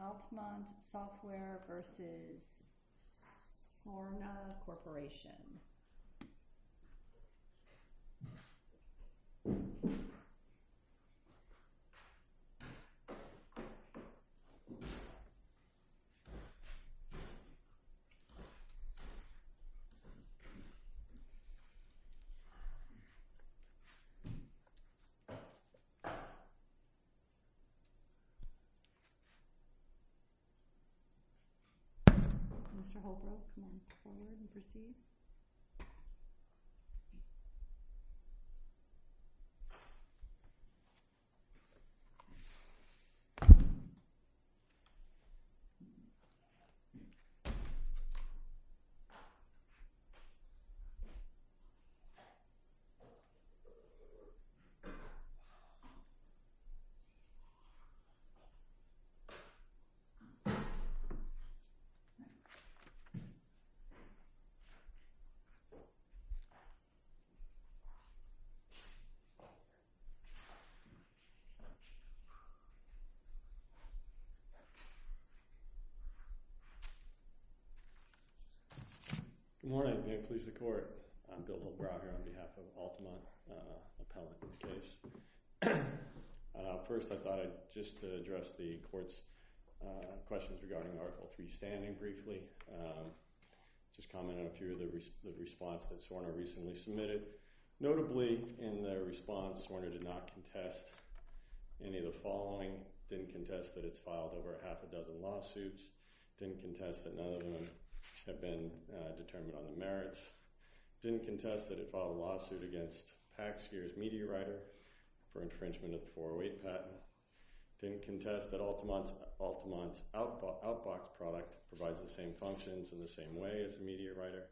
Alphamont Software, Inc. v. Sorna Corporation Alphamont Software, Inc. v. Sorna Corporation Alphamont Software, Inc. v. Sorna Corporation Alphamont Software, Inc. v. Sorna Corporation Alphamont Software, Inc. v. Sorna Corporation Good morning. May it please the Court, I'm Bill LeBrow here on behalf of Alphamont Appellate First, I thought I'd just address the Court's questions regarding Article 3 standing briefly Just comment on a few of the responses that Sorna recently submitted Notably, in their response, Sorna did not contest any of the following Didn't contest that it's filed over half a dozen lawsuits Didn't contest that none of them have been determined on the merits Didn't contest that it filed a lawsuit against Paxgear's MediaWriter for infringement of the 408 patent Didn't contest that Alphamont's Outbox product provides the same functions in the same way as MediaWriter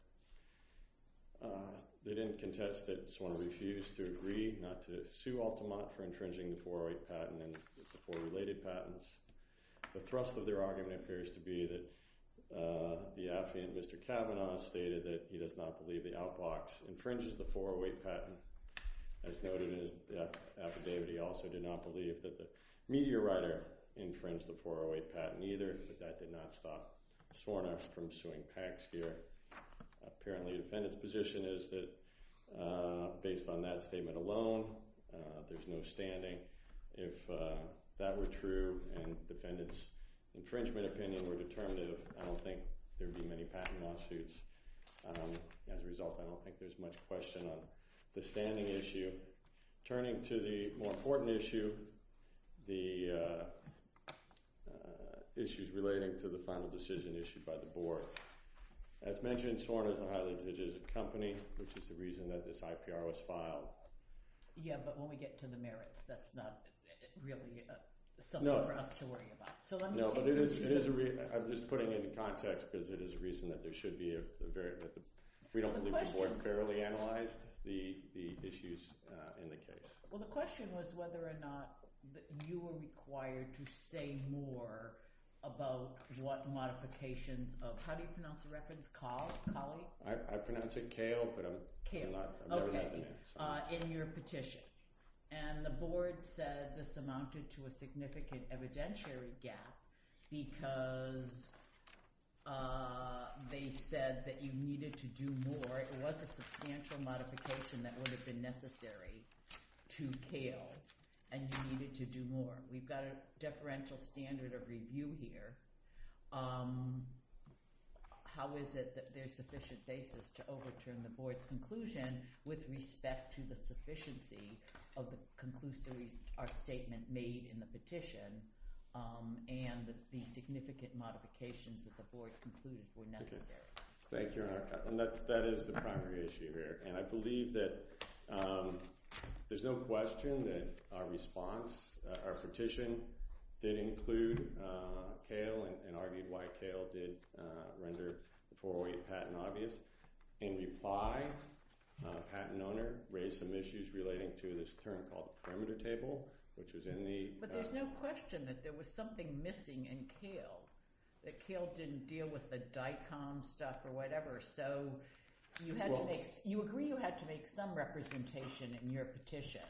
They didn't contest that Sorna refused to agree not to sue Alphamont for infringing the 408 patent and the four related patents The thrust of their argument appears to be that the affluent Mr. Kavanaugh stated that he does not believe the Outbox infringes the 408 patent As noted in his affidavit, he also did not believe that the MediaWriter infringed the 408 patent either But that did not stop Sorna from suing Paxgear Apparently the defendant's position is that based on that statement alone, there's no standing If that were true and the defendant's infringement opinion were determinative, I don't think there would be many patent lawsuits As a result, I don't think there's much question on the standing issue Turning to the more important issue, the issues relating to the final decision issued by the board As mentioned, Sorna is a highly digitized company, which is the reason that this IPR was filed But when we get to the merits, that's not really something for us to worry about I'm just putting it in context because it is a reason that we don't believe the board fairly analyzed the issues in the case The question was whether or not you were required to say more about what modifications of—how do you pronounce the reference? I pronounce it Kale, but I've never heard the name In your petition, and the board said this amounted to a significant evidentiary gap because they said that you needed to do more It was a substantial modification that would have been necessary to Kale, and you needed to do more We've got a deferential standard of review here How is it that there's sufficient basis to overturn the board's conclusion with respect to the sufficiency of our statement made in the petition And the significant modifications that the board concluded were necessary Thank you, Your Honor, and that is the primary issue here And I believe that there's no question that our response, our petition, did include Kale and argued why Kale did render the 408 patent obvious In reply, the patent owner raised some issues relating to this term called the perimeter table, which was in the— But there's no question that there was something missing in Kale, that Kale didn't deal with the DICOM stuff or whatever So you agree you had to make some representation in your petition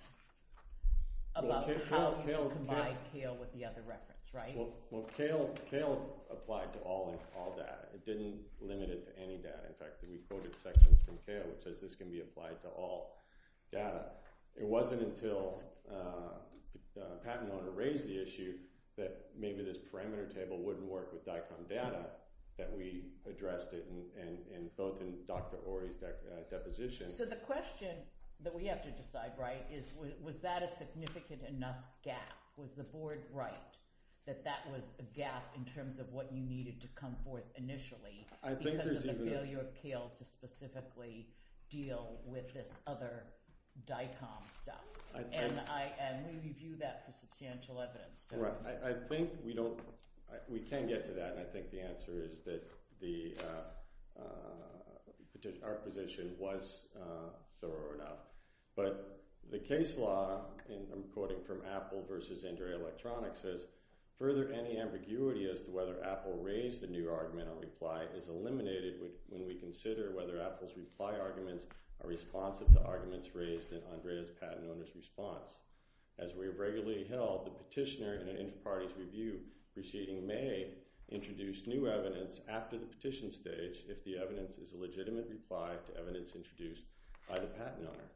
about how you combined Kale with the other reference, right? Well, Kale applied to all data. It didn't limit it to any data In fact, we quoted sections from Kale that says this can be applied to all data It wasn't until the patent owner raised the issue that maybe this perimeter table wouldn't work with DICOM data that we addressed it both in Dr. Ory's deposition So the question that we have to decide, right, is was that a significant enough gap? Was the board right that that was a gap in terms of what you needed to come forth initially? Because of the failure of Kale to specifically deal with this other DICOM stuff And we review that for substantial evidence I think we don't—we can get to that, and I think the answer is that our position was thorough enough But the case law, and I'm quoting from Apple v. Andrea Electronics, says Further, any ambiguity as to whether Apple raised the new argument on reply is eliminated when we consider whether Apple's reply arguments are responsive to arguments raised in Andrea's patent owner's response As we have regularly held, the petitioner, in an inter-parties review preceding May, introduced new evidence after the petition stage if the evidence is a legitimate reply to evidence introduced by the patent owner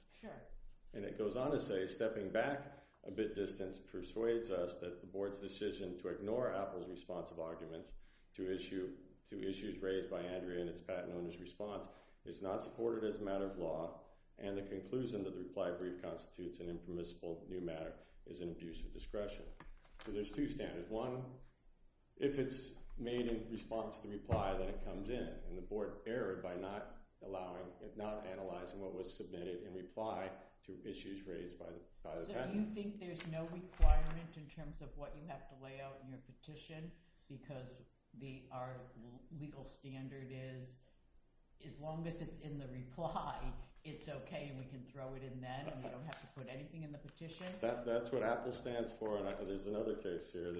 And it goes on to say, stepping back a bit distance persuades us that the board's decision to ignore Apple's response of arguments to issues raised by Andrea in its patent owner's response is not supported as a matter of law And the conclusion that the reply brief constitutes an impermissible new matter is an abuse of discretion So there's two standards If it's made in response to the reply, then it comes in, and the board erred by not analyzing what was submitted in reply to issues raised by the patent owner So you think there's no requirement in terms of what you have to lay out in your petition? Because our legal standard is, as long as it's in the reply, it's okay, and we can throw it in then, and we don't have to put anything in the petition? That's what Apple stands for, and there's another case here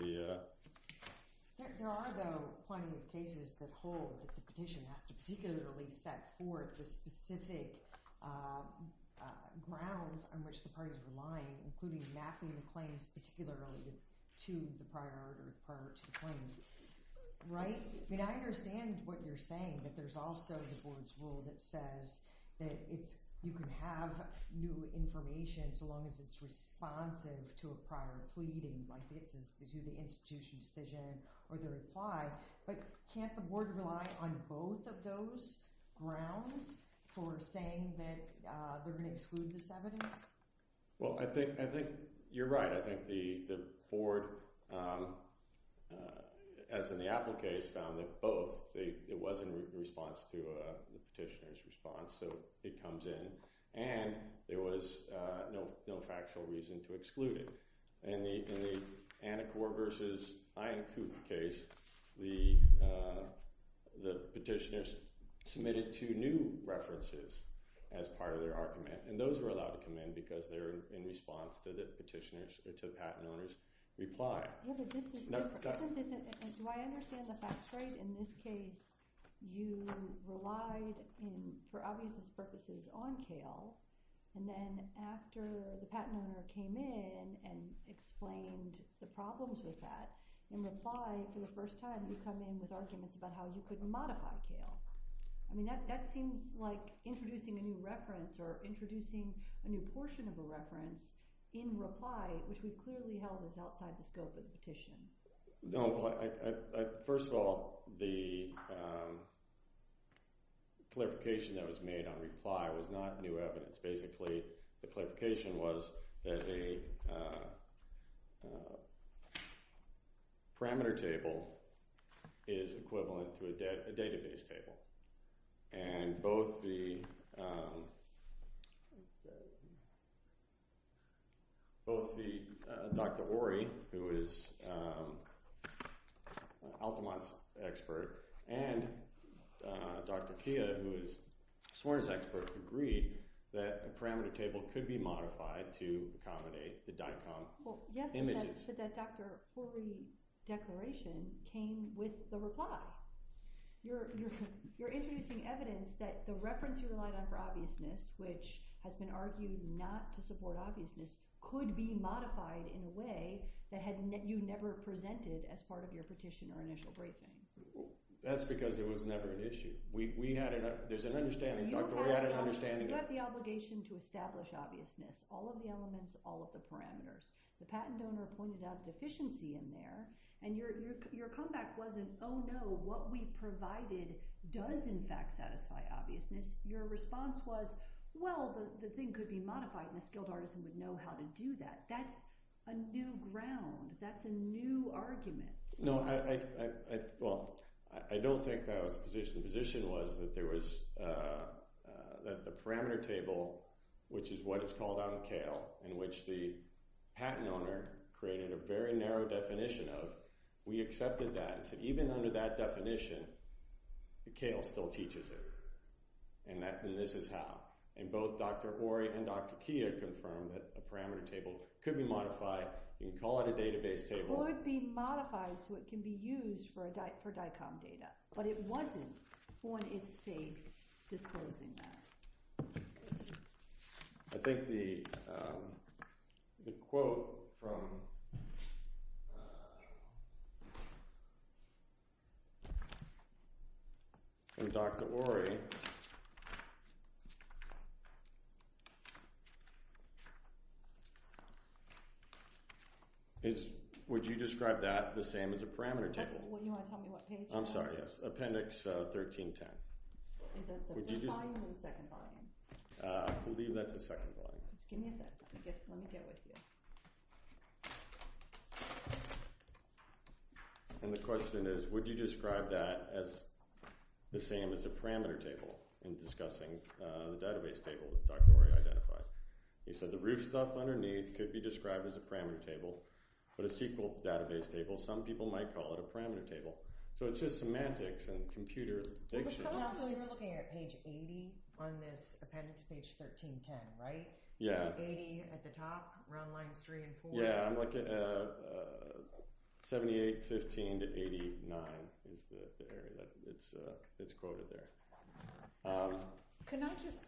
There are, though, plenty of cases that hold that the petition has to particularly set forth the specific grounds on which the parties are relying, including mapping claims particularly to the prior order prior to the claims I understand what you're saying, that there's also the board's rule that says you can have new information so long as it's responsive to a prior plea, to the institution's decision or the reply But can't the board rely on both of those grounds for saying that they're going to exclude this evidence? Well, I think you're right. I think the board, as in the Apple case, found that both. It was in response to the petitioner's response, so it comes in, and there was no factual reason to exclude it In the Anacor vs. Iancu case, the petitioners submitted two new references as part of their argument, and those were allowed to come in because they were in response to the petitioner's or the patent owner's reply Do I understand the facts right? In this case, you relied, for obvious purposes, on CAIL, and then after the patent owner came in and explained the problems with that, in reply, for the first time, you come in with arguments about how you could modify CAIL That seems like introducing a new reference, or introducing a new portion of a reference, in reply, which we clearly held was outside the scope of the petition First of all, the clarification that was made on reply was not new evidence. Basically, the clarification was that a parameter table is equivalent to a database table And both Dr. Ori, who is Altamont's expert, and Dr. Kia, who is Swern's expert, agreed that a parameter table could be modified to accommodate the DICOM images So, how much of that Dr. Ori declaration came with the reply? You're introducing evidence that the reference you relied on for obviousness, which has been argued not to support obviousness, could be modified in a way that you never presented as part of your petition or initial briefing That's because it was never an issue. We had an understanding You have the obligation to establish obviousness. All of the elements, all of the parameters. The patent owner pointed out a deficiency in there, and your comeback wasn't, oh no, what we provided does in fact satisfy obviousness Your response was, well, the thing could be modified and a skilled artisan would know how to do that. That's a new ground. That's a new argument No, I don't think that was the position. The position was that the parameter table, which is what is called out in CAIL, in which the patent owner created a very narrow definition of, we accepted that and said even under that definition, CAIL still teaches it And this is how. And both Dr. Ori and Dr. Kia confirmed that a parameter table could be modified. You can call it a database table It could be modified so it can be used for DICOM data, but it wasn't on its face disclosing that Would you describe that the same as a parameter table? I'm sorry, yes. Appendix 1310 Is that the first volume or the second volume? I believe that's the second volume Give me a second. Let me deal with you And the question is, would you describe that as the same as a parameter table in discussing the database table that Dr. Ori identified? He said the roof stuff underneath could be described as a parameter table, but a SQL database table, some people might call it a parameter table So it's just semantics and computer diction You're looking at page 80 on this appendix, page 1310, right? Yeah 80 at the top, round lines 3 and 4 Yeah, I'm looking at 78, 15 to 89 is the area that's quoted there Can I just,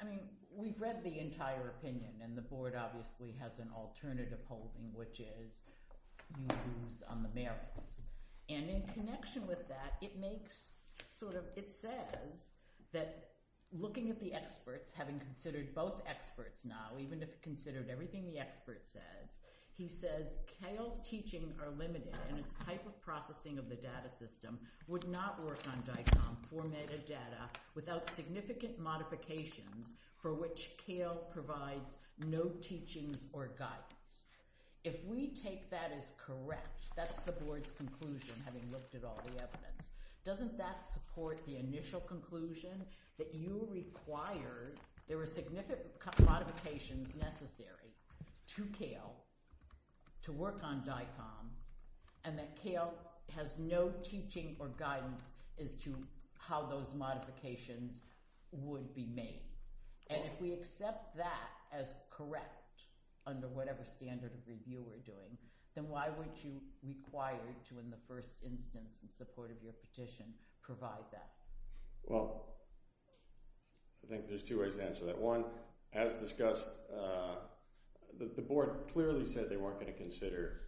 I mean, we've read the entire opinion and the board obviously has an alternative holding, which is you lose on the merits And in connection with that, it makes, sort of, it says that looking at the experts, having considered both experts now, even if you considered everything the expert says He says, CAIL's teaching are limited and its type of processing of the data system would not work on DICOM formatted data without significant modifications for which CAIL provides no teachings or guidance If we take that as correct, that's the board's conclusion, having looked at all the evidence Doesn't that support the initial conclusion that you required, there were significant modifications necessary to CAIL to work on DICOM and that CAIL has no teaching or guidance as to how those modifications would be made And if we accept that as correct, under whatever standard of review we're doing, then why weren't you required to, in the first instance, in support of your petition, provide that? Well, I think there's two ways to answer that One, as discussed, the board clearly said they weren't going to consider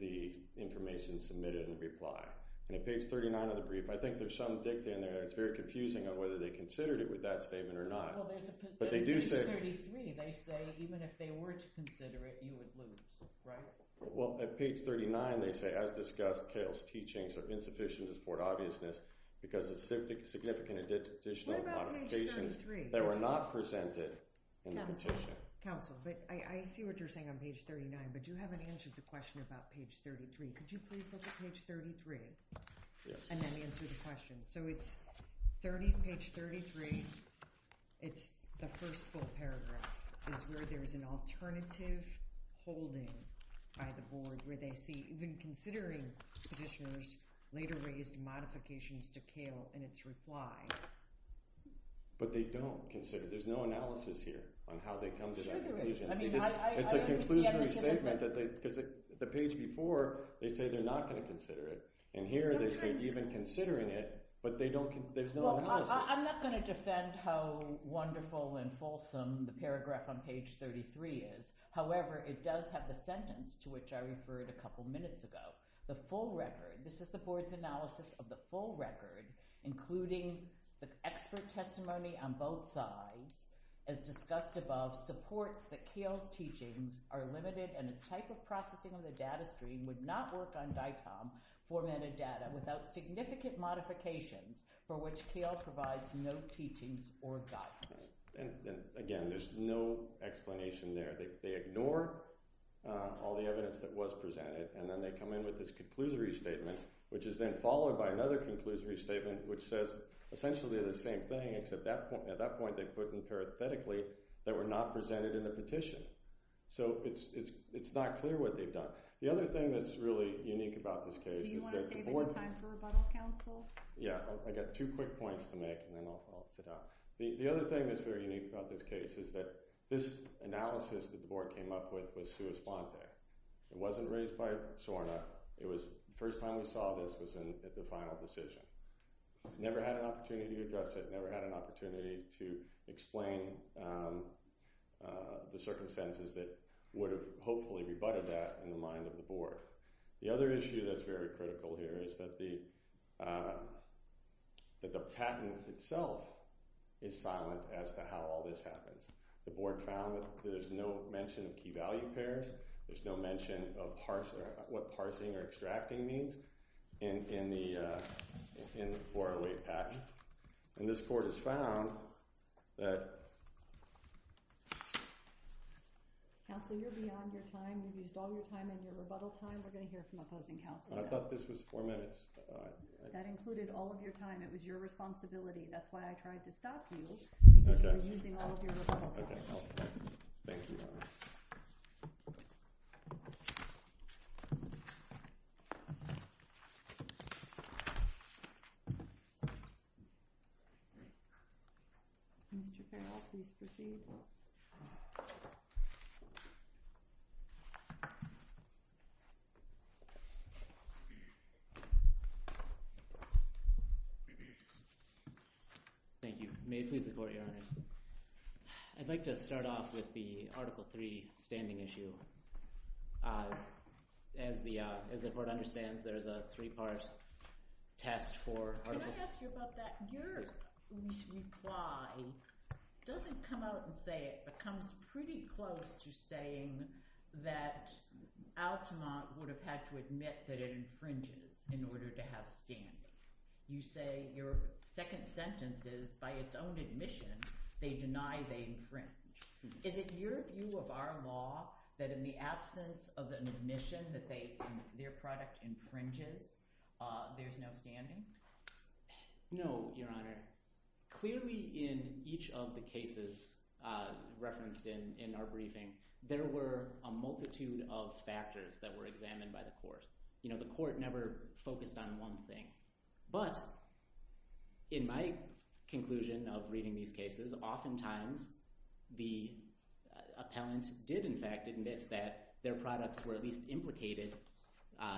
the information submitted in reply And at page 39 of the brief, I think there's some dicta in there that's very confusing on whether they considered it with that statement or not Page 33, they say even if they were to consider it, you would lose, right? Well, at page 39 they say, as discussed, CAIL's teachings are insufficient to support obviousness because of significant additional modifications that were not presented in the petition Council, but I see what you're saying on page 39, but you haven't answered the question about page 33 Could you please look at page 33 and then answer the question? So it's 30, page 33, it's the first full paragraph is where there's an alternative holding by the board where they see even considering petitioners later raised modifications to CAIL in its reply But they don't consider, there's no analysis here on how they come to that conclusion It's a conclusionary statement, because the page before, they say they're not going to consider it And here they say even considering it, but there's no analysis Well, I'm not going to defend how wonderful and fulsome the paragraph on page 33 is However, it does have the sentence to which I referred a couple minutes ago The full record, this is the board's analysis of the full record, including the expert testimony on both sides As discussed above, supports that CAIL's teachings are limited and its type of processing of the data stream would not work on DITOM formatted data without significant modifications for which CAIL provides no teachings or guidance Again, there's no explanation there, they ignore all the evidence that was presented And then they come in with this conclusionary statement, which is then followed by another conclusionary statement Which says essentially the same thing, except at that point they put in parenthetically that we're not presented in the petition So it's not clear what they've done The other thing that's really unique about this case Do you want to save any time for rebuttal, counsel? Yeah, I've got two quick points to make and then I'll sit down One thing that's very unique about this case is that this analysis that the board came up with was sua sponte It wasn't raised by SORNA, the first time we saw this was at the final decision Never had an opportunity to address it, never had an opportunity to explain the circumstances that would have hopefully rebutted that in the mind of the board The other issue that's very critical here is that the patent itself is silent as to how all this happens The board found that there's no mention of key value pairs, there's no mention of what parsing or extracting means in the 408 patent And this board has found that... Counsel, you're beyond your time, you've used all your time in your rebuttal time, we're going to hear from the closing counsel now I thought this was four minutes That included all of your time, it was your responsibility, that's why I tried to stop you Okay Thank you Mr. Carroll, please proceed Thank you, may it please the court, your honor I'd like to start off with the Article 3 standing issue As the board understands, there's a three-part test for Article 3 Let me ask you about that, your reply doesn't come out and say it, but comes pretty close to saying that Altamont would have had to admit that it infringes in order to have standing You say your second sentence is, by its own admission, they deny they infringe Is it your view of our law that in the absence of an admission that their product infringes, there's no standing? No, your honor Clearly in each of the cases referenced in our briefing, there were a multitude of factors that were examined by the court You know, the court never focused on one thing But, in my conclusion of reading these cases, oftentimes the appellant did in fact admit that their products were at least implicated,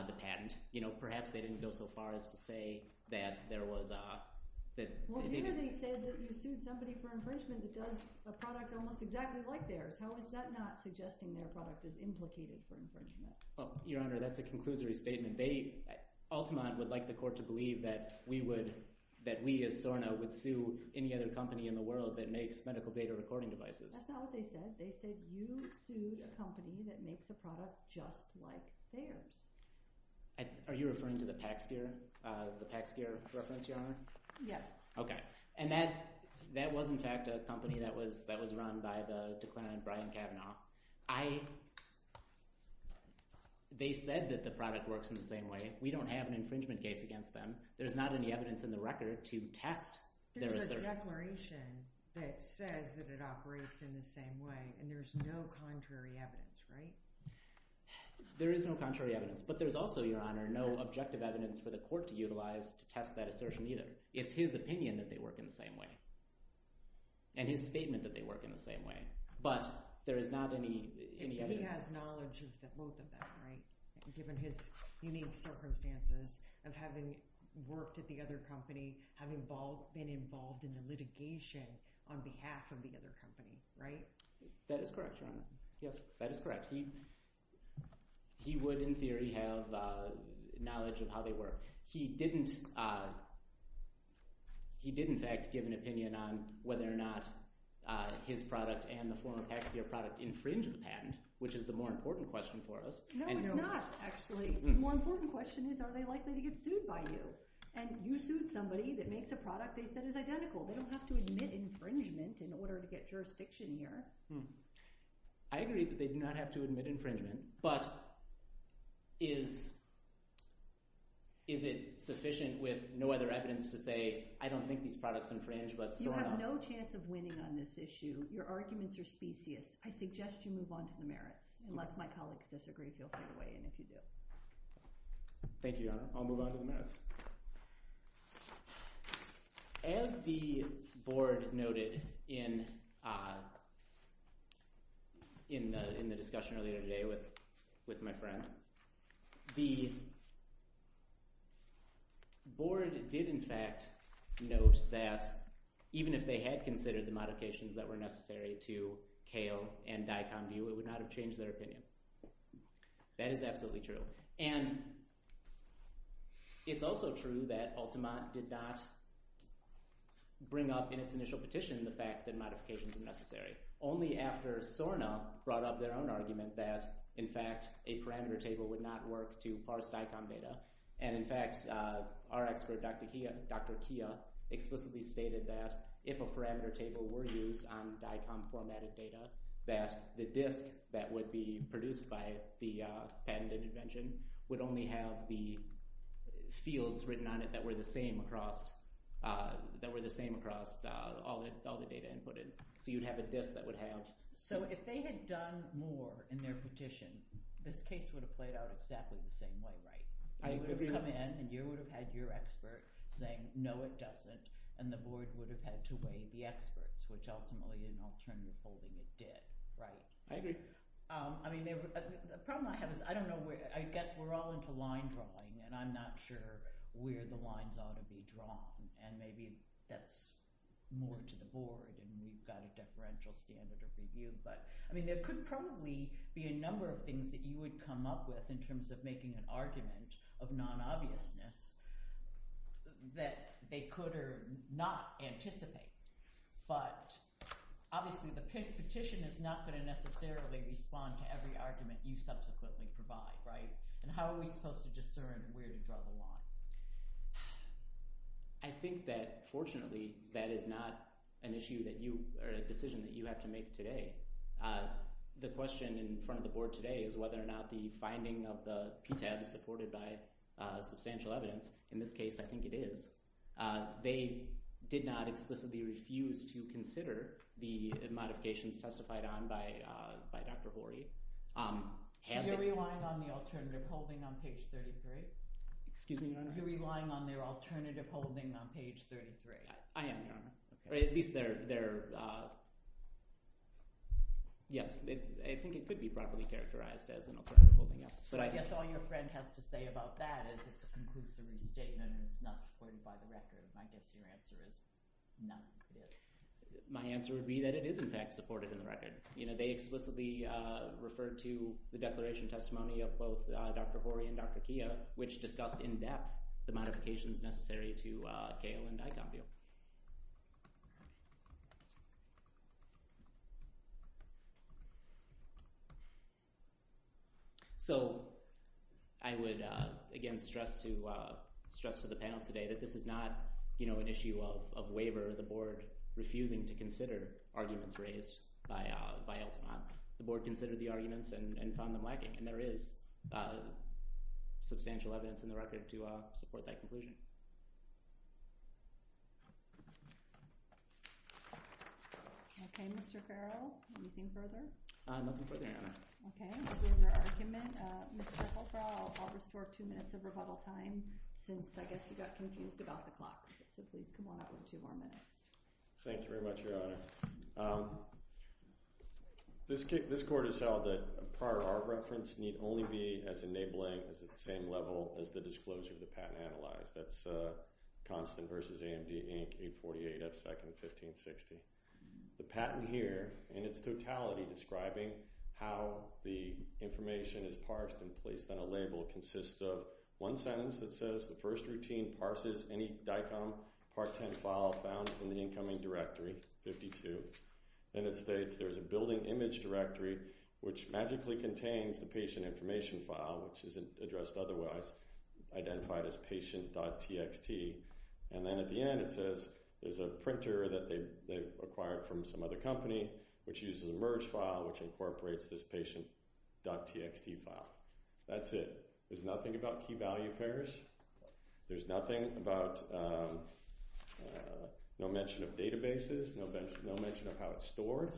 the patent And, you know, perhaps they didn't go so far as to say that there was a... Well, you said that you sued somebody for infringement that does a product almost exactly like theirs How is that not suggesting their product is implicated for infringement? Well, your honor, that's a conclusory statement Altamont would like the court to believe that we as SORNA would sue any other company in the world that makes medical data recording devices That's not what they said, they said you sued a company that makes a product just like theirs Are you referring to the Pax Gear reference, your honor? Yes Okay, and that was in fact a company that was run by the declinant Brian Kavanaugh They said that the product works in the same way, we don't have an infringement case against them, there's not any evidence in the record to test their assertion There's a declaration that says that it operates in the same way, and there's no contrary evidence, right? There is no contrary evidence, but there's also, your honor, no objective evidence for the court to utilize to test that assertion either It's his opinion that they work in the same way, and his statement that they work in the same way, but there is not any evidence He has knowledge of both of them, right? Given his unique circumstances of having worked at the other company, having been involved in the litigation on behalf of the other company, right? That is correct, your honor, yes, that is correct He would in theory have knowledge of how they work He did in fact give an opinion on whether or not his product and the former Pax Gear product infringed the patent, which is the more important question for us No it's not, actually, the more important question is are they likely to get sued by you? And you sued somebody that makes a product they said is identical, they don't have to admit infringement in order to get jurisdiction here I agree that they do not have to admit infringement, but is it sufficient with no other evidence to say I don't think these products infringe, but so on? You have no chance of winning on this issue, your arguments are specious, I suggest you move on to the merits, unless my colleagues disagree, feel free to weigh in if you do Thank you, your honor, I'll move on to the merits As the board noted in the discussion earlier today with my friend, the board did in fact note that even if they had considered the modifications that were necessary to Kale and Dicomvue, it would not have changed their opinion That is absolutely true, and it's also true that Ultimat did not bring up in its initial petition the fact that modifications were necessary Only after Sorna brought up their own argument that in fact a parameter table would not work to parse Dicom data And in fact our expert Dr. Kia explicitly stated that if a parameter table were used on Dicom formatted data that the disk that would be produced by the patent intervention would only have the fields written on it that were the same across all the data inputted So you'd have a disk that would have So if they had done more in their petition, this case would have played out exactly the same way, right? They would have come in and you would have had your expert saying no it doesn't, and the board would have had to weigh the experts, which ultimately in alternative holding it did, right? I agree The problem I have is I don't know where, I guess we're all into line drawing and I'm not sure where the lines ought to be drawn And maybe that's more to the board and we've got a deferential standard of review But I mean there could probably be a number of things that you would come up with in terms of making an argument of non-obviousness that they could or not anticipate But obviously the petition is not going to necessarily respond to every argument you subsequently provide, right? And how are we supposed to discern where to draw the line? I think that fortunately that is not an issue that you, or a decision that you have to make today The question in front of the board today is whether or not the finding of the PTAB is supported by substantial evidence In this case I think it is They did not explicitly refuse to consider the modifications testified on by Dr. Horry Have you relied on the alternative holding on page 33? Excuse me, Your Honor You're relying on their alternative holding on page 33 I am, Your Honor At least they're, yes, I think it could be properly characterized as an alternative holding So I guess all your friend has to say about that is it's a conclusive statement and it's not supported by the record And I guess your answer is no They explicitly referred to the declaration testimony of both Dr. Horry and Dr. Keough Which discussed in depth the modifications necessary to Kail and Dicombio So I would again stress to the panel today that this is not an issue of waiver Or the board refusing to consider arguments raised by Elton The board considered the arguments and found them lacking And there is substantial evidence in the record to support that conclusion Okay, Mr. Farrell, anything further? Nothing further, Your Honor Okay, moving on to your argument Mr. Farrell, I'll restore two minutes of rebuttal time since I guess you got confused about the clock So please come on up and give one minute Thank you very much, Your Honor This court has held that prior art reference need only be as enabling as at the same level as the disclosure of the patent analyzed That's Constant v. AMD, Inc., 848 F. 2nd, 1560 The patent here in its totality describing how the information is parsed and placed on a label Consists of one sentence that says the first routine parses any Dicomb Part 10 file found in the incoming directory, 52 And it states there's a building image directory which magically contains the patient information file Which isn't addressed otherwise, identified as patient.txt And then at the end it says there's a printer that they acquired from some other company Which uses a merge file which incorporates this patient.txt file That's it. There's nothing about key value pairs There's nothing about, no mention of databases, no mention of how it's stored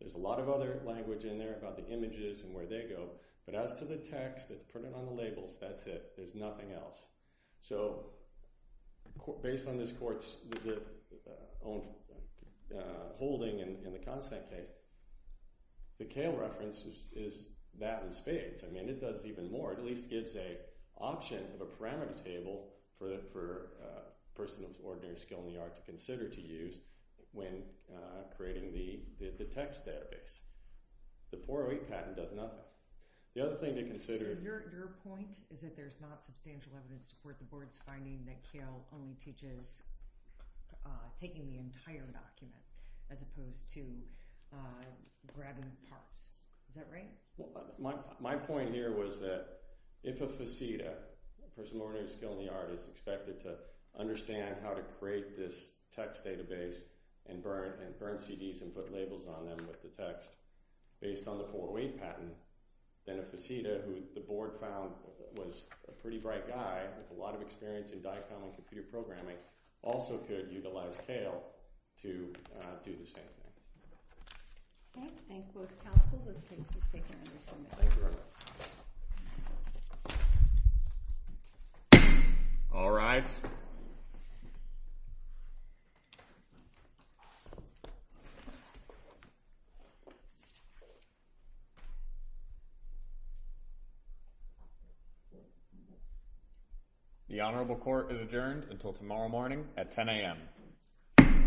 There's a lot of other language in there about the images and where they go But as to the text that's printed on the labels, that's it. There's nothing else So, based on this court's own holding in the Constant case The Cale reference is that in spades, I mean it does even more It at least gives an option of a parameter table for a person of ordinary skill in the art to consider to use When creating the text database The 408 patent does nothing The other thing to consider So your point is that there's not substantial evidence to support the board's finding that Cale only teaches Taking the entire document as opposed to grabbing parts. Is that right? My point here was that if a faceta, a person of ordinary skill in the art Is expected to understand how to create this text database and burn CDs and put labels on them with the text Based on the 408 patent Then a faceta who the board found was a pretty bright guy With a lot of experience in DICOM and computer programming Also could utilize Cale to do the same thing Okay, thank both counsel. This case is taken under submission Thank you All rise The honorable court is adjourned until tomorrow morning at 10 a.m.